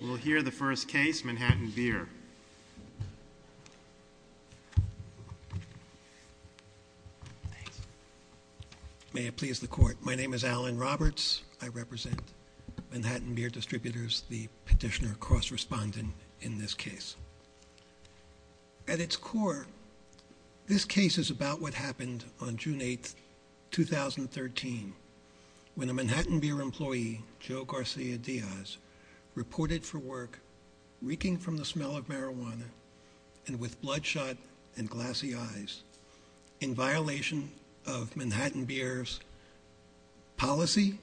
We'll hear the first case, Manhattan Beer. May it please the court, my name is Alan Roberts. I represent Manhattan Beer Distributors, the petitioner cross-respondent in this case. At its core, this case is about what happened on June 8, 2013, when a Manhattan Beer employee, Joe Garcia Diaz, reported for work reeking from the smell of marijuana and with bloodshot and glassy eyes, in violation of Manhattan Beer's policy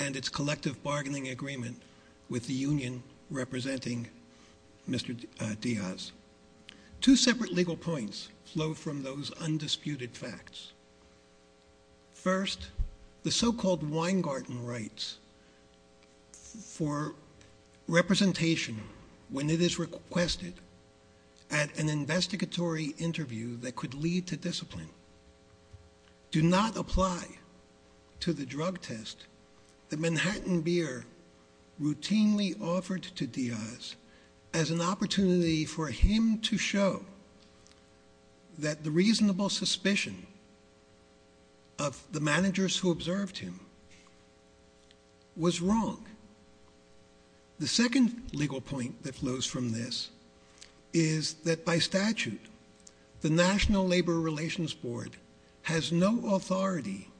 and its collective bargaining agreement with the union representing Mr. Diaz. Two separate legal points flow from those undisputed facts. First, the so-called Weingarten Rights for representation when it is requested at an investigatory interview that could lead to discipline do not apply to the drug test that Manhattan Beer routinely offered to Diaz as an opportunity for him to show that the reasonable suspicion of the managers who observed him was wrong. The second legal point that flows from this is that by statute, the National Labor Relations Board has no authority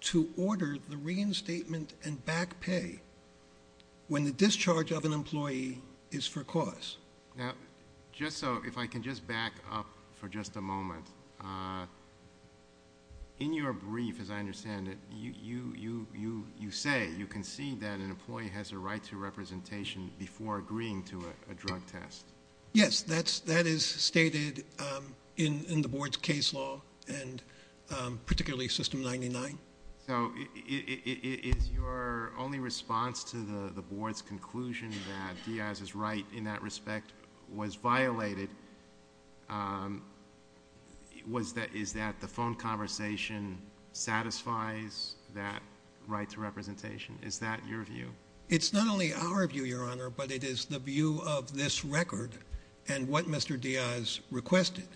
to order the reinstatement and back pay when the discharge of an employee is for cause. Now, just so, if I can just back up for just a moment, in your brief, as I understand it, you say you concede that an employee has a right to representation before agreeing to a drug test. Yes, that is stated in the board's case law and particularly System 99. So is your only response to the board's conclusion that Diaz's right in that respect was violated, is that the phone conversation satisfies that right to representation? Is that your view? It's not only our view, Your Honor, but it is the view of this record and what Mr. Diaz requested.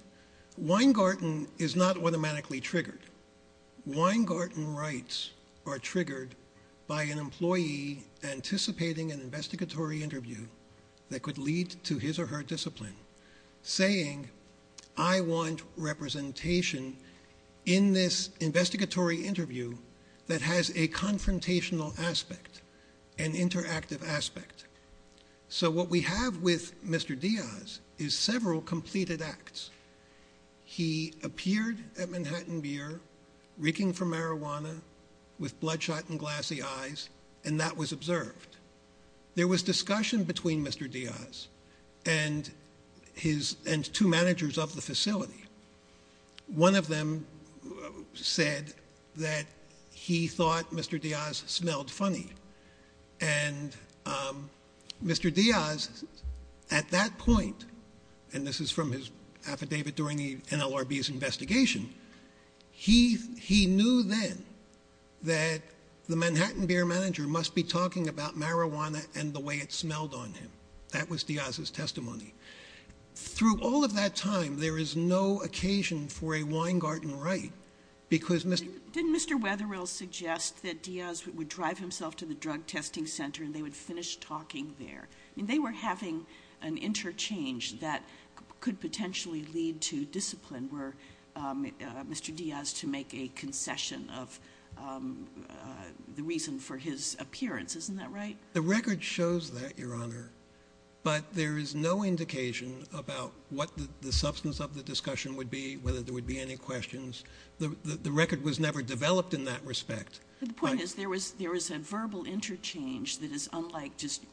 Weingarten is not automatically triggered. Weingarten rights are triggered by an employee anticipating an investigatory interview that could lead to his or her discipline, saying I want representation in this investigatory interview that has a confrontational aspect, an interactive aspect. So what we have with Mr. Diaz is several completed acts. He appeared at Manhattan Beer, reeking from marijuana, with bloodshot and glassy eyes, and that was observed. There was discussion between Mr. Diaz and two managers of the facility. One of them said that he thought Mr. Diaz smelled funny. And Mr. Diaz, at that point, and this is from his affidavit during the NLRB's investigation, he knew then that the Manhattan Beer manager must be talking about marijuana and the way it smelled on him. That was Diaz's testimony. Through all of that time, there is no occasion for a Weingarten right because Mr. Wetherill suggests that Diaz would drive himself to the drug testing center and they would finish talking there. I mean, they were having an interchange that could potentially lead to discipline were Mr. Diaz to make a concession of the reason for his appearance. Isn't that right? The record shows that, Your Honor. But there is no indication about what the substance of the discussion would be, whether there would be any questions. The record was never developed in that respect. But the point is there was a verbal interchange that is unlike just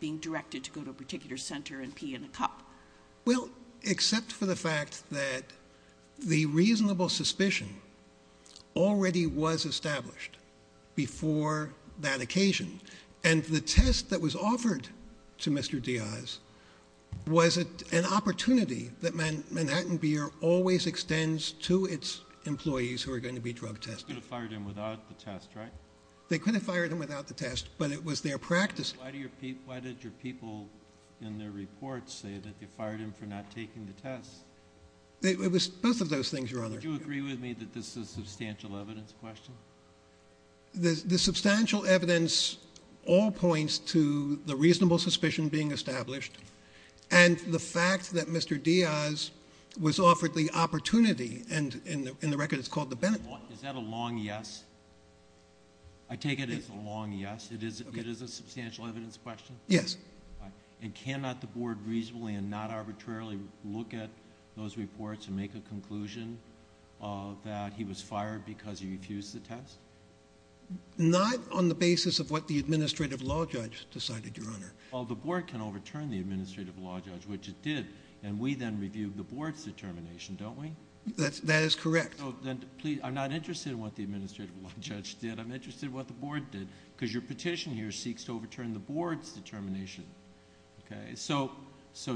being directed to go to a particular center and pee in a cup. Well, except for the fact that the reasonable suspicion already was established before that occasion. And the test that was offered to Mr. Diaz was an opportunity that Manhattan Beer always extends to its employees who are going to be drug tested. They could have fired him without the test, right? They could have fired him without the test, but it was their practice. Why did your people in their reports say that they fired him for not taking the test? It was both of those things, Your Honor. Do you agree with me that this is a substantial evidence question? The substantial evidence all points to the reasonable suspicion being established and the fact that Mr. Diaz was offered the opportunity. And in the record it's called the benefit. Is that a long yes? I take it as a long yes. It is a substantial evidence question? Yes. And cannot the Board reasonably and not arbitrarily look at those reports and make a conclusion that he was fired because he refused the test? Not on the basis of what the Administrative Law Judge decided, Your Honor. Well, the Board can overturn the Administrative Law Judge, which it did, and we then review the Board's determination, don't we? That is correct. I'm not interested in what the Administrative Law Judge did. I'm interested in what the Board did because your petition here seeks to overturn the Board's determination. Okay? So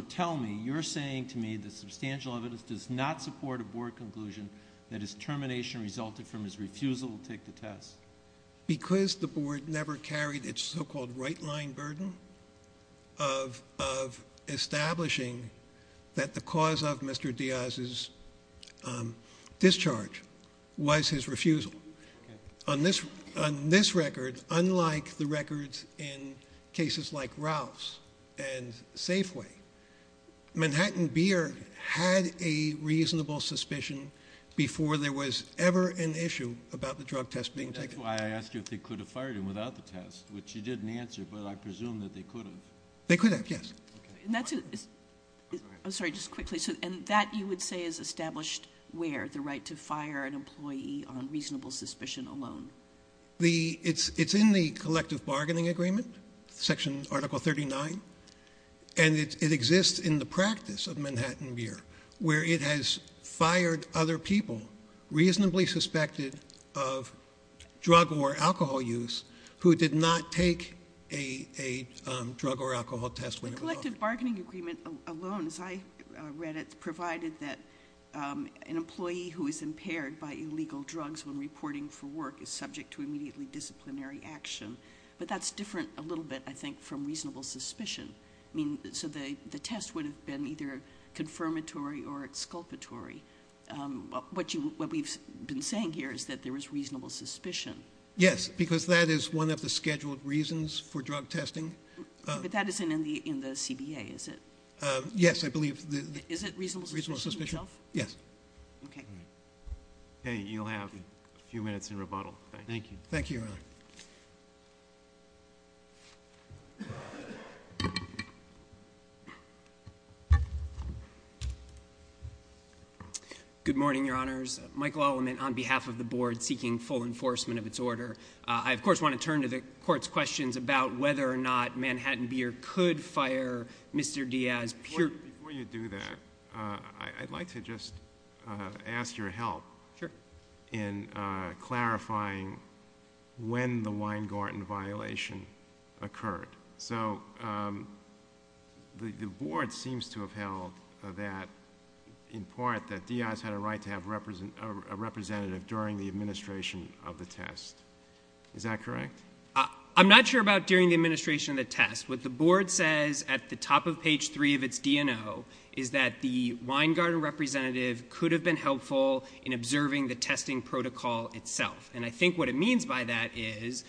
tell me, you're saying to me the substantial evidence does not support a Board conclusion that his termination resulted from his refusal to take the test. Because the Board never carried its so-called right-line burden of establishing that the cause of Mr. Diaz's discharge was his refusal. On this record, unlike the records in cases like Ralph's and Safeway, Manhattan Beer had a reasonable suspicion before there was ever an issue about the drug test being taken. And that's why I asked you if they could have fired him without the test, which you didn't answer, but I presume that they could have. They could have, yes. I'm sorry, just quickly. And that, you would say, is established where? The right to fire an employee on reasonable suspicion alone? It's in the Collective Bargaining Agreement, Section Article 39. And it exists in the practice of Manhattan Beer, where it has fired other people reasonably suspected of drug or alcohol use who did not take a drug or alcohol test. The Collective Bargaining Agreement alone, as I read it, provided that an employee who is impaired by illegal drugs when reporting for work is subject to immediately disciplinary action. But that's different a little bit, I think, from reasonable suspicion. I mean, so the test would have been either confirmatory or exculpatory. What we've been saying here is that there is reasonable suspicion. Yes, because that is one of the scheduled reasons for drug testing. But that isn't in the CBA, is it? Yes, I believe. Is it reasonable suspicion itself? Yes. Okay. Okay, you'll have a few minutes in rebuttal. Thank you. Thank you, Your Honor. Good morning, Your Honors. Michael Aleman, on behalf of the Board, seeking full enforcement of its order. I, of course, want to turn to the Court's questions about whether or not Manhattan Beer could fire Mr. Diaz. Before you do that, I'd like to just ask your help in clarifying when the Weingarten violation occurred. So the Board seems to have held that, in part, that Diaz had a right to have a representative during the administration of the test. Is that correct? I'm not sure about during the administration of the test. What the Board says at the top of page 3 of its DNO is that the Weingarten representative could have been helpful in observing the testing protocol itself. And I think what it means by that is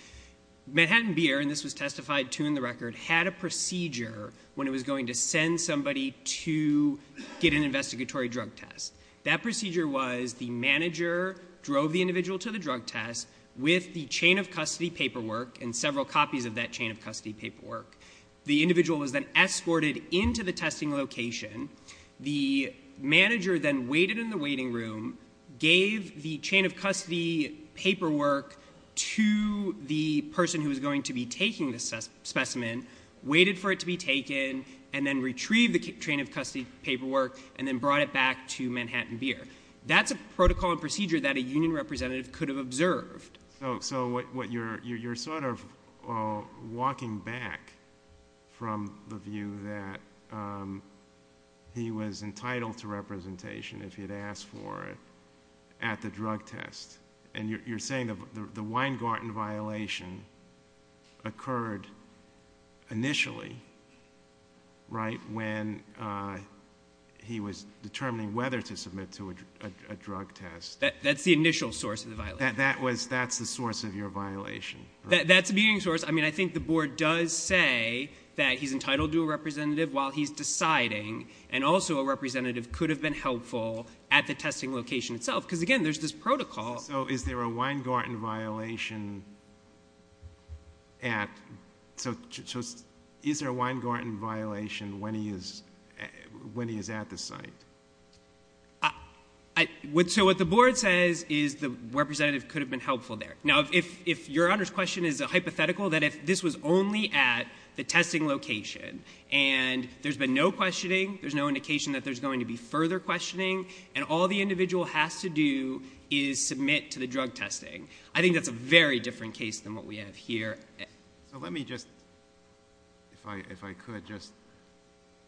Manhattan Beer, and this was testified to in the record, had a procedure when it was going to send somebody to get an investigatory drug test. That procedure was the manager drove the individual to the drug test with the chain of custody paperwork and several copies of that chain of custody paperwork. The individual was then escorted into the testing location. The manager then waited in the waiting room, gave the chain of custody paperwork to the person who was going to be taking the specimen, waited for it to be taken, and then retrieved the chain of custody paperwork and then brought it back to Manhattan Beer. That's a protocol and procedure that a union representative could have observed. So you're sort of walking back from the view that he was entitled to representation if he had asked for it at the drug test. And you're saying the Weingarten violation occurred initially, right, when he was determining whether to submit to a drug test. That's the initial source of the violation. That's the source of your violation. That's the beginning source. I mean, I think the board does say that he's entitled to a representative while he's deciding. And also a representative could have been helpful at the testing location itself because, again, there's this protocol. So is there a Weingarten violation at, so is there a Weingarten violation when he is at the site? So what the board says is the representative could have been helpful there. Now, if your Honor's question is a hypothetical, that if this was only at the testing location and there's been no questioning, there's no indication that there's going to be further questioning, and all the individual has to do is submit to the drug testing, I think that's a very different case than what we have here. So let me just, if I could, just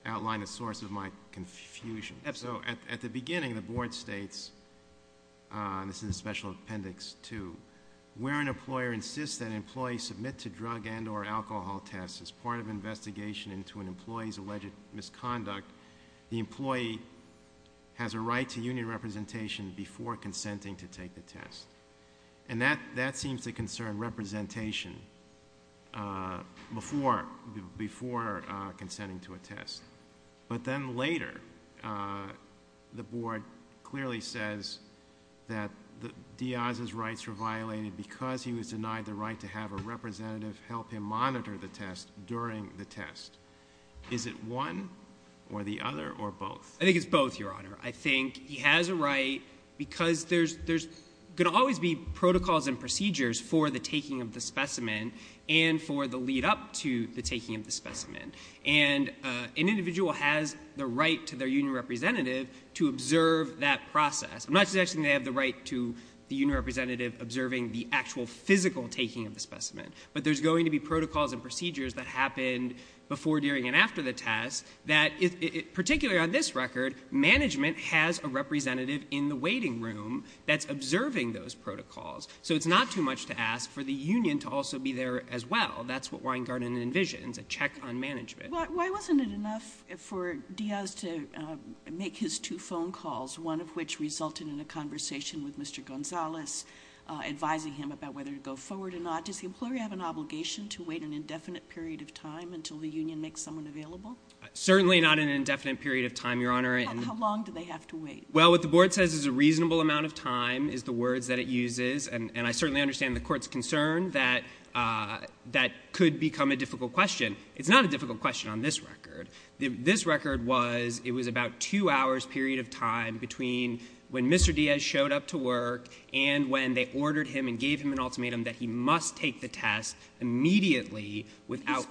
outline a source of my confusion. Absolutely. So at the beginning, the board states, this is a special appendix 2, where an employer insists that an employee submit to drug and or alcohol tests as part of an investigation into an employee's alleged misconduct, the employee has a right to union representation before consenting to take the test. And that seems to concern representation before consenting to a test. But then later, the board clearly says that Diaz's rights were violated because he was denied the right to have a representative help him monitor the test during the test. Is it one or the other or both? I think it's both, Your Honor. I think he has a right because there's going to always be protocols and procedures for the taking of the specimen and for the lead up to the taking of the specimen. And an individual has the right to their union representative to observe that process. I'm not suggesting they have the right to the union representative observing the actual physical taking of the specimen. But there's going to be protocols and procedures that happened before, during, and after the test that, particularly on this record, management has a representative in the waiting room that's observing those protocols. So it's not too much to ask for the union to also be there as well. That's what Weingarten envisions, a check on management. Why wasn't it enough for Diaz to make his two phone calls, one of which resulted in a conversation with Mr. Gonzalez, advising him about whether to go forward or not? Does the employer have an obligation to wait an indefinite period of time until the union makes someone available? Certainly not an indefinite period of time, Your Honor. How long do they have to wait? Well, what the Board says is a reasonable amount of time is the words that it uses. And I certainly understand the Court's concern that that could become a difficult question. It's not a difficult question on this record. This record was, it was about two hours period of time between when Mr. Diaz showed up to work and when they ordered him and gave him an ultimatum that he must take the test immediately without... you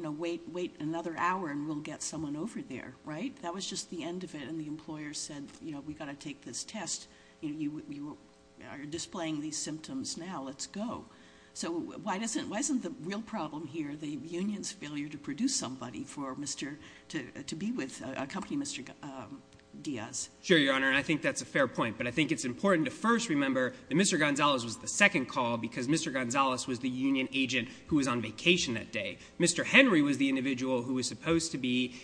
know, wait another hour and we'll get someone over there, right? That was just the end of it and the employer said, you know, we've got to take this test. You are displaying these symptoms now, let's go. So why doesn't, why isn't the real problem here the union's failure to produce somebody for Mr., to be with, accompany Mr. Diaz? Sure, Your Honor, and I think that's a fair point. But I think it's important to first remember that Mr. Gonzalez was the second call because Mr. Gonzalez was the union agent who was on vacation that day. Mary was the individual who was supposed to be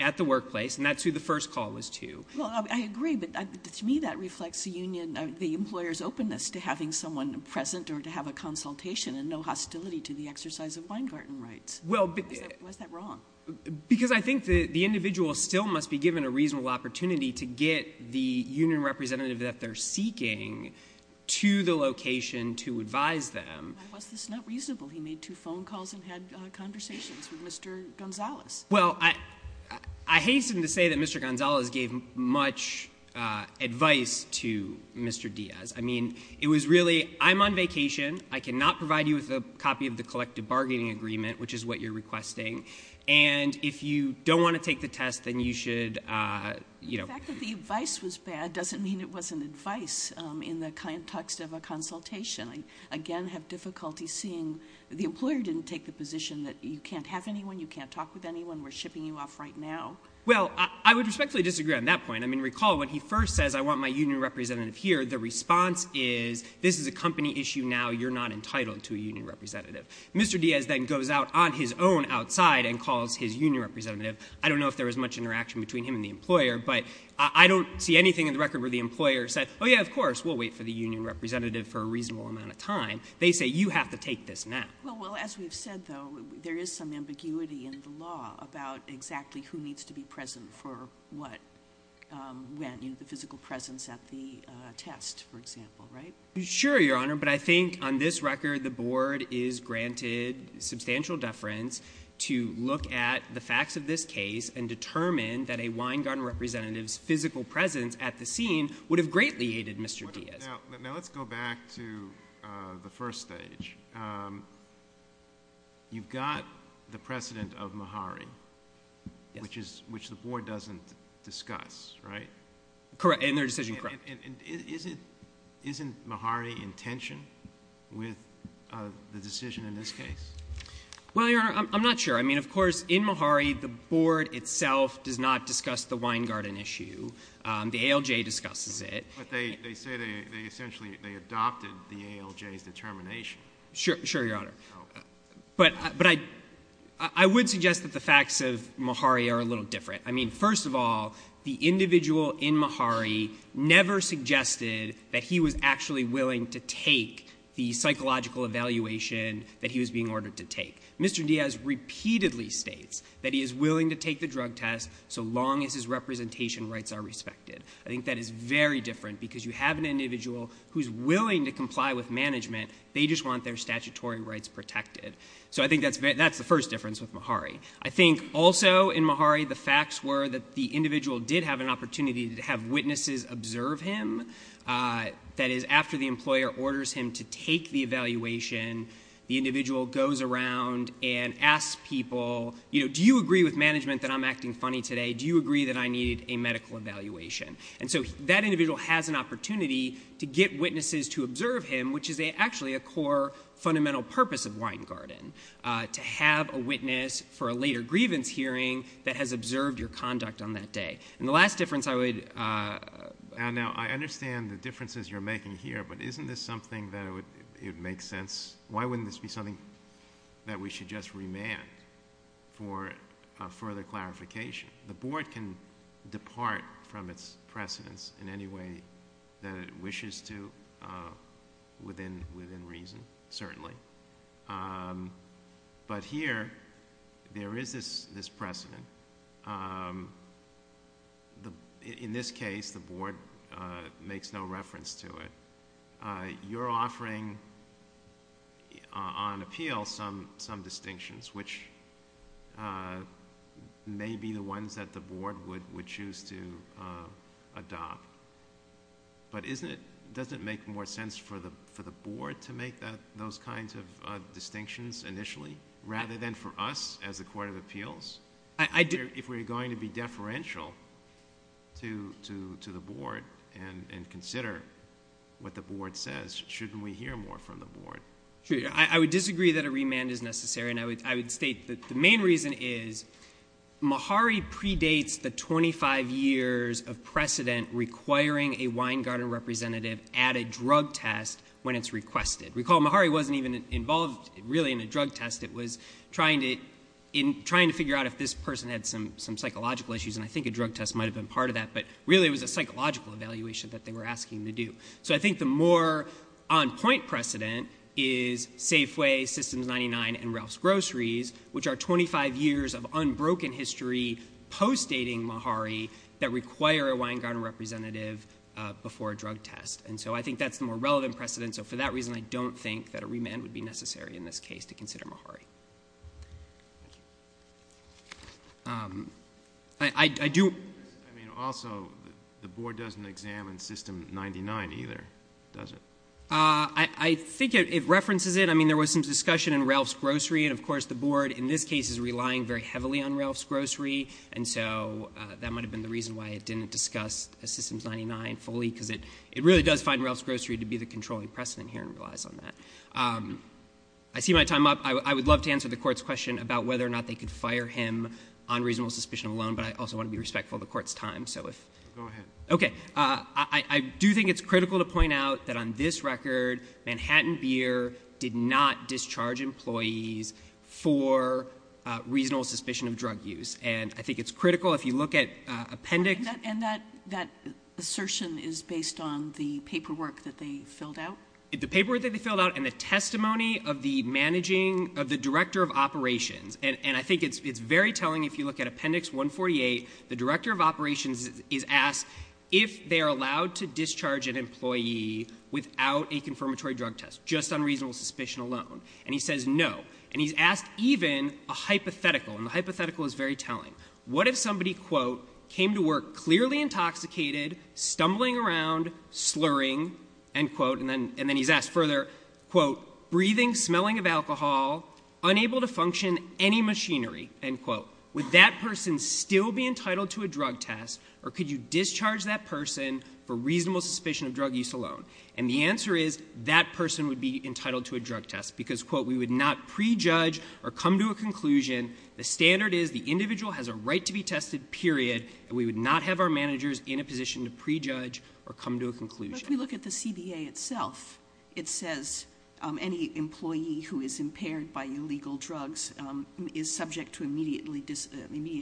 at the workplace and that's who the first call was to. Well, I agree, but to me that reflects the union, the employer's openness to having someone present or to have a consultation and no hostility to the exercise of Weingarten rights. Why is that wrong? Because I think the individual still must be given a reasonable opportunity to get the union representative that they're seeking to the location to advise them. Why was this not reasonable? He made two phone calls and had conversations with Mr. Gonzalez. Well, I hasten to say that Mr. Gonzalez gave much advice to Mr. Diaz. I mean, it was really, I'm on vacation. I cannot provide you with a copy of the collective bargaining agreement, which is what you're requesting. And if you don't want to take the test, then you should, you know. The fact that the advice was bad doesn't mean it wasn't advice in the context of a consultation. I, again, have difficulty seeing the employer didn't take the position that you can't have anyone, you can't talk with anyone, we're shipping you off right now. Well, I would respectfully disagree on that point. I mean, recall when he first says I want my union representative here, the response is this is a company issue now. You're not entitled to a union representative. Mr. Diaz then goes out on his own outside and calls his union representative. I don't know if there was much interaction between him and the employer, but I don't see anything in the record where the employer said, oh, yeah, of course, we'll wait for the union representative for a reasonable amount of time. They say you have to take this now. Well, as we've said, though, there is some ambiguity in the law about exactly who needs to be present for what, when. You know, the physical presence at the test, for example, right? Sure, Your Honor, but I think on this record the board is granted substantial deference to look at the facts of this case and determine that a wine garden representative's physical presence at the scene would have greatly aided Mr. Diaz. Now let's go back to the first stage. You've got the precedent of Mahari, which the board doesn't discuss, right? Correct, in their decision, correct. Isn't Mahari in tension with the decision in this case? Well, Your Honor, I'm not sure. I mean, of course, in Mahari the board itself does not discuss the wine garden issue. The ALJ discusses it. But they say they essentially adopted the ALJ's determination. Sure, Your Honor. But I would suggest that the facts of Mahari are a little different. I mean, first of all, the individual in Mahari never suggested that he was actually willing to take the psychological evaluation that he was being ordered to take. Mr. Diaz repeatedly states that he is willing to take the drug test so long as his representation rights are respected. I think that is very different because you have an individual who's willing to comply with management. They just want their statutory rights protected. So I think that's the first difference with Mahari. I think also in Mahari the facts were that the individual did have an opportunity to have witnesses observe him. That is, after the employer orders him to take the evaluation, the individual goes around and asks people, you know, do you agree with management that I'm acting funny today? Do you agree that I needed a medical evaluation? And so that individual has an opportunity to get witnesses to observe him, which is actually a core fundamental purpose of wine garden, to have a witness for a later grievance hearing that has observed your conduct on that day. And the last difference I would... Now, I understand the differences you're making here, but isn't this something that it would make sense? Why wouldn't this be something that we should just remand for further clarification? The board can depart from its precedents in any way that it wishes to within reason, certainly. But here there is this precedent. In this case, the board makes no reference to it. You're offering on appeal some distinctions, which may be the ones that the board would choose to adopt, but doesn't it make more sense for the board to make those kinds of distinctions initially rather than for us as a court of appeals? If we're going to be deferential to the board and consider what the board says, shouldn't we hear more from the board? Sure. I would disagree that a remand is necessary. And I would state that the main reason is Mahari predates the 25 years of precedent requiring a wine garden representative at a drug test when it's requested. Recall, Mahari wasn't even involved really in a drug test. It was trying to figure out if this person had some psychological issues, and I think a drug test might have been part of that, but really it was a psychological evaluation that they were asking to do. So I think the more on point precedent is Safeway, Systems 99, and Ralph's Groceries, which are 25 years of unbroken history post-dating Mahari that require a wine garden representative before a drug test. And so I think that's the more relevant precedent, so for that reason I don't think that a remand would be necessary in this case to consider Mahari. Thank you. I do... I mean, also, the board doesn't examine System 99 either, does it? I think it references it. I mean, there was some discussion in Ralph's Groceries, and of course the board in this case is relying very heavily on Ralph's Groceries, and so that might have been the reason why it didn't discuss Systems 99 fully, because it really does find Ralph's Groceries to be the controlling precedent here and relies on that. I see my time up. I would love to answer the Court's question about whether or not they could fire him on reasonable suspicion alone, but I also want to be respectful of the Court's time, so if... Go ahead. Okay. I do think it's critical to point out that on this record, Manhattan Beer did not discharge employees for reasonable suspicion of drug use, and I think it's critical if you look at appendix... And that assertion is based on the paperwork that they filled out? The paperwork that they filled out and the testimony of the managing... of the director of operations, and I think it's very telling if you look at appendix 148, the director of operations is asked if they are allowed to discharge an employee without a confirmatory drug test, just on reasonable suspicion alone, and he says no. And he's asked even a hypothetical, and the hypothetical is very telling. What if somebody, quote, came to work clearly intoxicated, stumbling around, slurring, end quote, and then he's asked further, quote, breathing, smelling of alcohol, unable to function any machinery, end quote, would that person still be entitled to a drug test, or could you discharge that person for reasonable suspicion of drug use alone? And the answer is that person would be entitled to a drug test because, quote, we would not prejudge or come to a conclusion. The standard is the individual has a right to be tested, period, and we would not have our managers in a position to prejudge or come to a conclusion. But if we look at the CBA itself, it says any employee who is impaired by illegal drugs is subject to immediate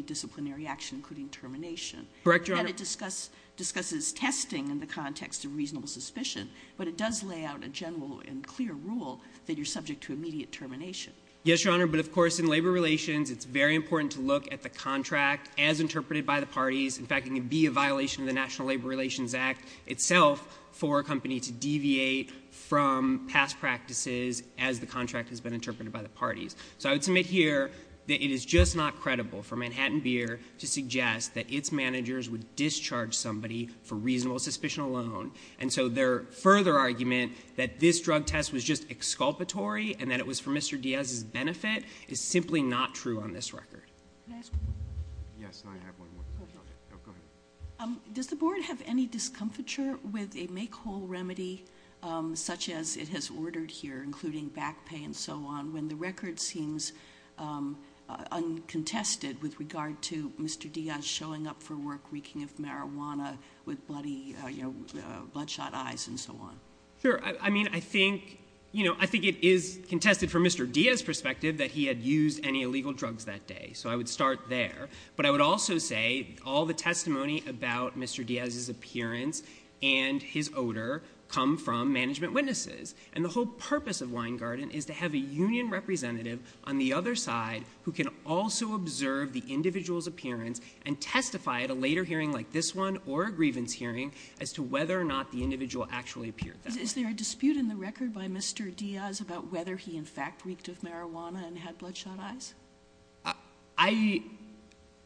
disciplinary action, including termination. Correct, Your Honor. And it discusses testing in the context of reasonable suspicion, but it does lay out a general and clear rule that you're subject to immediate termination. Yes, Your Honor, but of course, in labor relations, it's very important to look at the contract as interpreted by the parties. In fact, it can be a violation of the National Labor Relations Act itself for a company to deviate from past practices as the contract has been interpreted by the parties. So I would submit here that it is just not credible for Manhattan Beer to suggest that its managers would discharge somebody for reasonable suspicion alone. And so their further argument that this drug test was just exculpatory and that it was for Mr. Diaz's benefit is simply not true on this record. Yes, I have one more question. Go ahead. Does the board have any discomfiture with a make-whole remedy such as it has ordered here, including back pay and so on, when the record seems uncontested with regard to Mr. Diaz showing up for work reeking of marijuana with bloody, you know, bloodshot eyes and so on? Sure. I mean, I think, you know, I think it is contested from Mr. Diaz's perspective that he had used any illegal drugs that day. So I would start there. But I would also say all the testimony about Mr. Diaz's appearance and his odor come from management witnesses. And the whole purpose of Weingarten is to have a union representative on the other side who can also observe the individual's appearance and testify at a later hearing like this one or a grievance hearing as to whether or not the individual actually appeared that way. Is there a dispute in the record by Mr. Diaz about whether he in fact reeked of marijuana and had bloodshot eyes?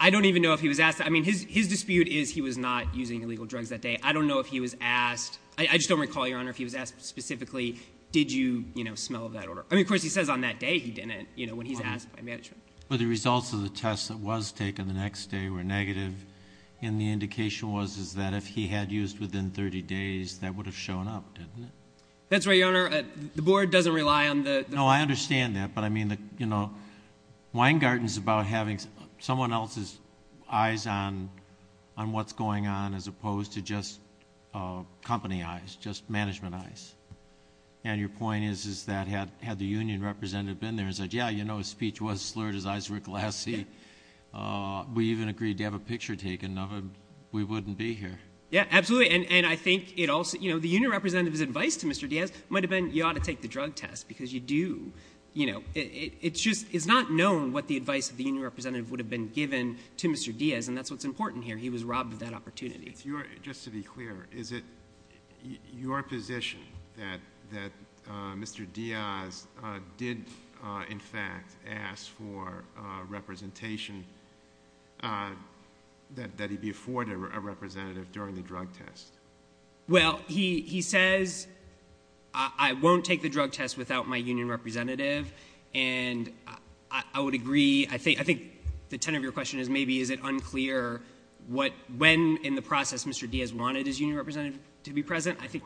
I don't even know if he was asked. I mean, his dispute is he was not using illegal drugs that day. I don't know if he was asked. I just don't recall, Your Honor, if he was asked specifically, did you, you know, smell that odor? I mean, of course, he says on that day he didn't, you know, when he's asked by management. But the results of the test that was taken the next day were negative. And the indication was that if he had used within 30 days, that would have shown up, didn't it? That's right, Your Honor. The board doesn't rely on the... No, I understand that. But I mean, you know, Weingarten is about having someone else's eyes on what's going on as opposed to just company eyes, just management eyes. And your point is that had the union representative been there and said, yeah, you know, his speech was slurred, his eyes were glassy. We even agreed to have a picture taken of him. We wouldn't be here. Yeah, absolutely. And I think it also, you know, the union representative's advice to Mr. Diaz might have been you ought to take the drug test because you do, you know, it's just, it's not known what the advice of the union representative would have been given to Mr. Diaz. And that's what's important here. He was robbed of that opportunity. Just to be clear, is it your position that Mr. Diaz did, in fact, ask for representation that he be afforded a representative during the drug test? Well, he says, I won't take the drug test without my union representative. And I would agree. I think the tenor of your question is maybe is it unclear when in the process Mr. Diaz wanted his union representative to be present? I think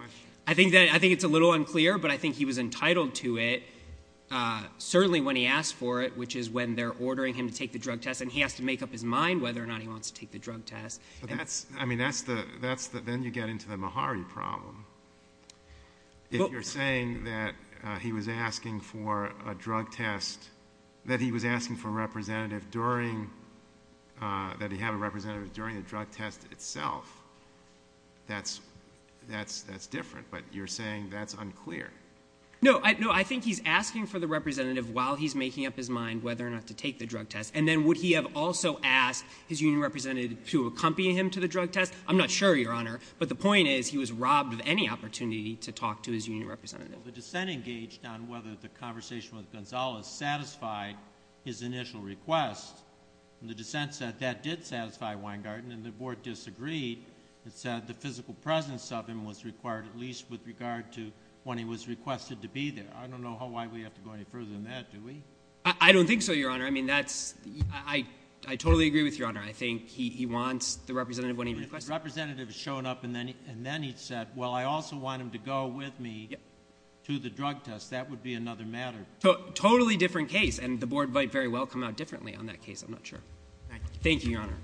it's a little unclear, but I think he was entitled to it, certainly when he asked for it, which is when they're ordering him to take the drug test. And he has to make up his mind whether or not he wants to take the drug test. But that's, I mean, that's the, that's the, then you get into the Mahari problem. If you're saying that he was asking for a drug test, that he was asking for a representative during, that he had a representative during the drug test itself, that's, that's, that's different. But you're saying that's unclear. No, I, no, I think he's asking for the representative while he's making up his mind whether or not to take the drug test. And then would he have also asked his union representative to accompany him to the drug test? I'm not sure, Your Honor. But the point is he was robbed of any opportunity to talk to his union representative. The dissent engaged on whether the conversation with Gonzales satisfied his initial request. The dissent said that did satisfy Weingarten, and the board disagreed. It said the physical presence of him was required, at least with regard to when he was requested to be there. I don't know how, why we have to go any further than that, do we? I, I don't think so, Your Honor. I mean, that's, I, I totally agree with Your Honor. I think he, he wants the representative when he requests it. The representative has shown up, and then, and then he said, well, I also want him to go with me to the drug test. That would be another matter. Totally different case, and the board might very well come out differently on that case. I'm not sure. Thank you, Your Honor.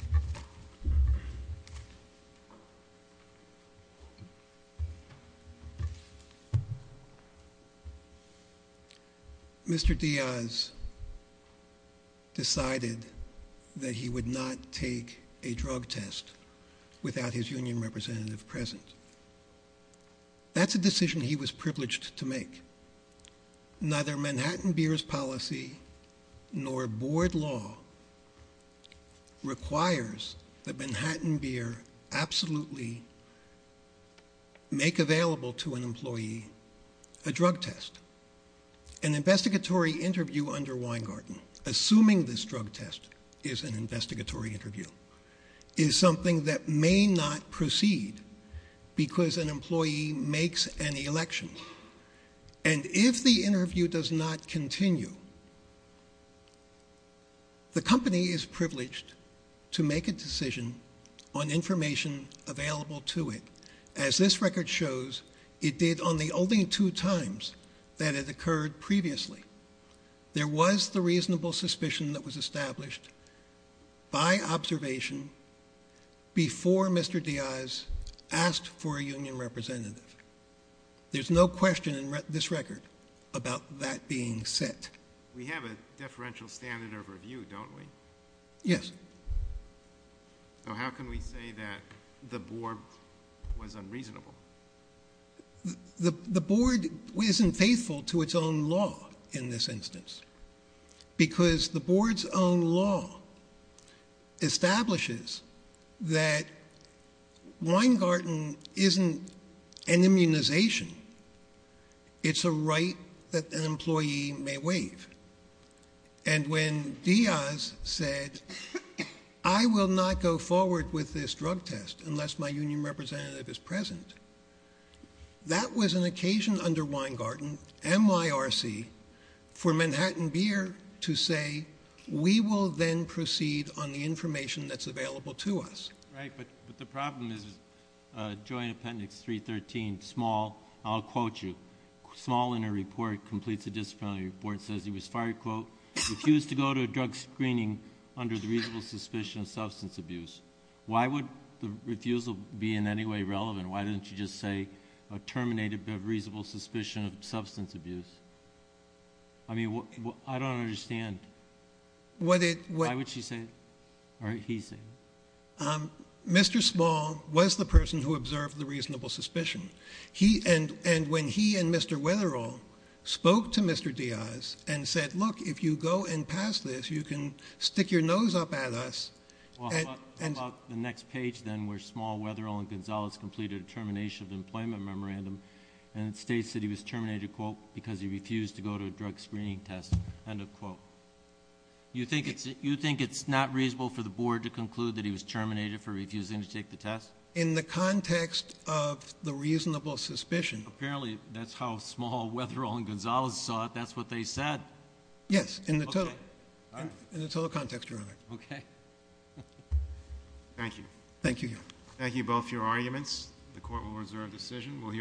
Mr. Diaz decided that he would not take a drug test without his union representative present. That's a decision he was privileged to make. Neither Manhattan Beer's policy, nor board law, requires that Manhattan Beer absolutely make available to an employee a drug test. An investigatory interview under Weingarten, assuming this drug test is an investigatory interview, is something that may not proceed because an employee makes an election. If the interview does not continue, the company is privileged to make a decision on information available to it. As this record shows, it did on the only two times that it occurred previously. There was the reasonable suspicion that was established by observation before Mr. Diaz asked for a union representative. There's no question in this record about that being set. We have a deferential standard of review, don't we? Yes. So how can we say that the board was unreasonable? The board isn't faithful to its own law in this instance because the board's own law establishes that Weingarten isn't an immunization. It's a right that an employee may waive. And when Diaz said, I will not go forward with this drug test unless my union representative is present, that was an occasion under Weingarten, MYRC, for Manhattan Beer to say, we will then proceed on the information that's available to us. Right, but the problem is Joint Appendix 313, small, I'll quote you, small in a report, completes a disciplinary report, says he was fired, quote, refused to go to a drug screening under the reasonable suspicion of substance abuse. Why would the refusal be in any way relevant? Why would she just say a terminated reasonable suspicion of substance abuse? I mean, I don't understand. Why would she say it? Or he say it? Mr. Small was the person who observed the reasonable suspicion. And when he and Mr. Weatherill spoke to Mr. Diaz and said, look, if you go and pass this, you can stick your nose up at us. How about the next page then where Small, Weatherill, and Gonzalez completed a termination of employment memorandum, and it states that he was terminated, quote, because he refused to go to a drug screening test, end of quote. You think it's not reasonable for the board to conclude that he was terminated for refusing to take the test? In the context of the reasonable suspicion. Apparently, that's how Small, Weatherill, and Gonzalez saw it. That's what they said. Yes, in the total context, Your Honor. Thank you. Thank you, Your Honor. Thank you both for your arguments.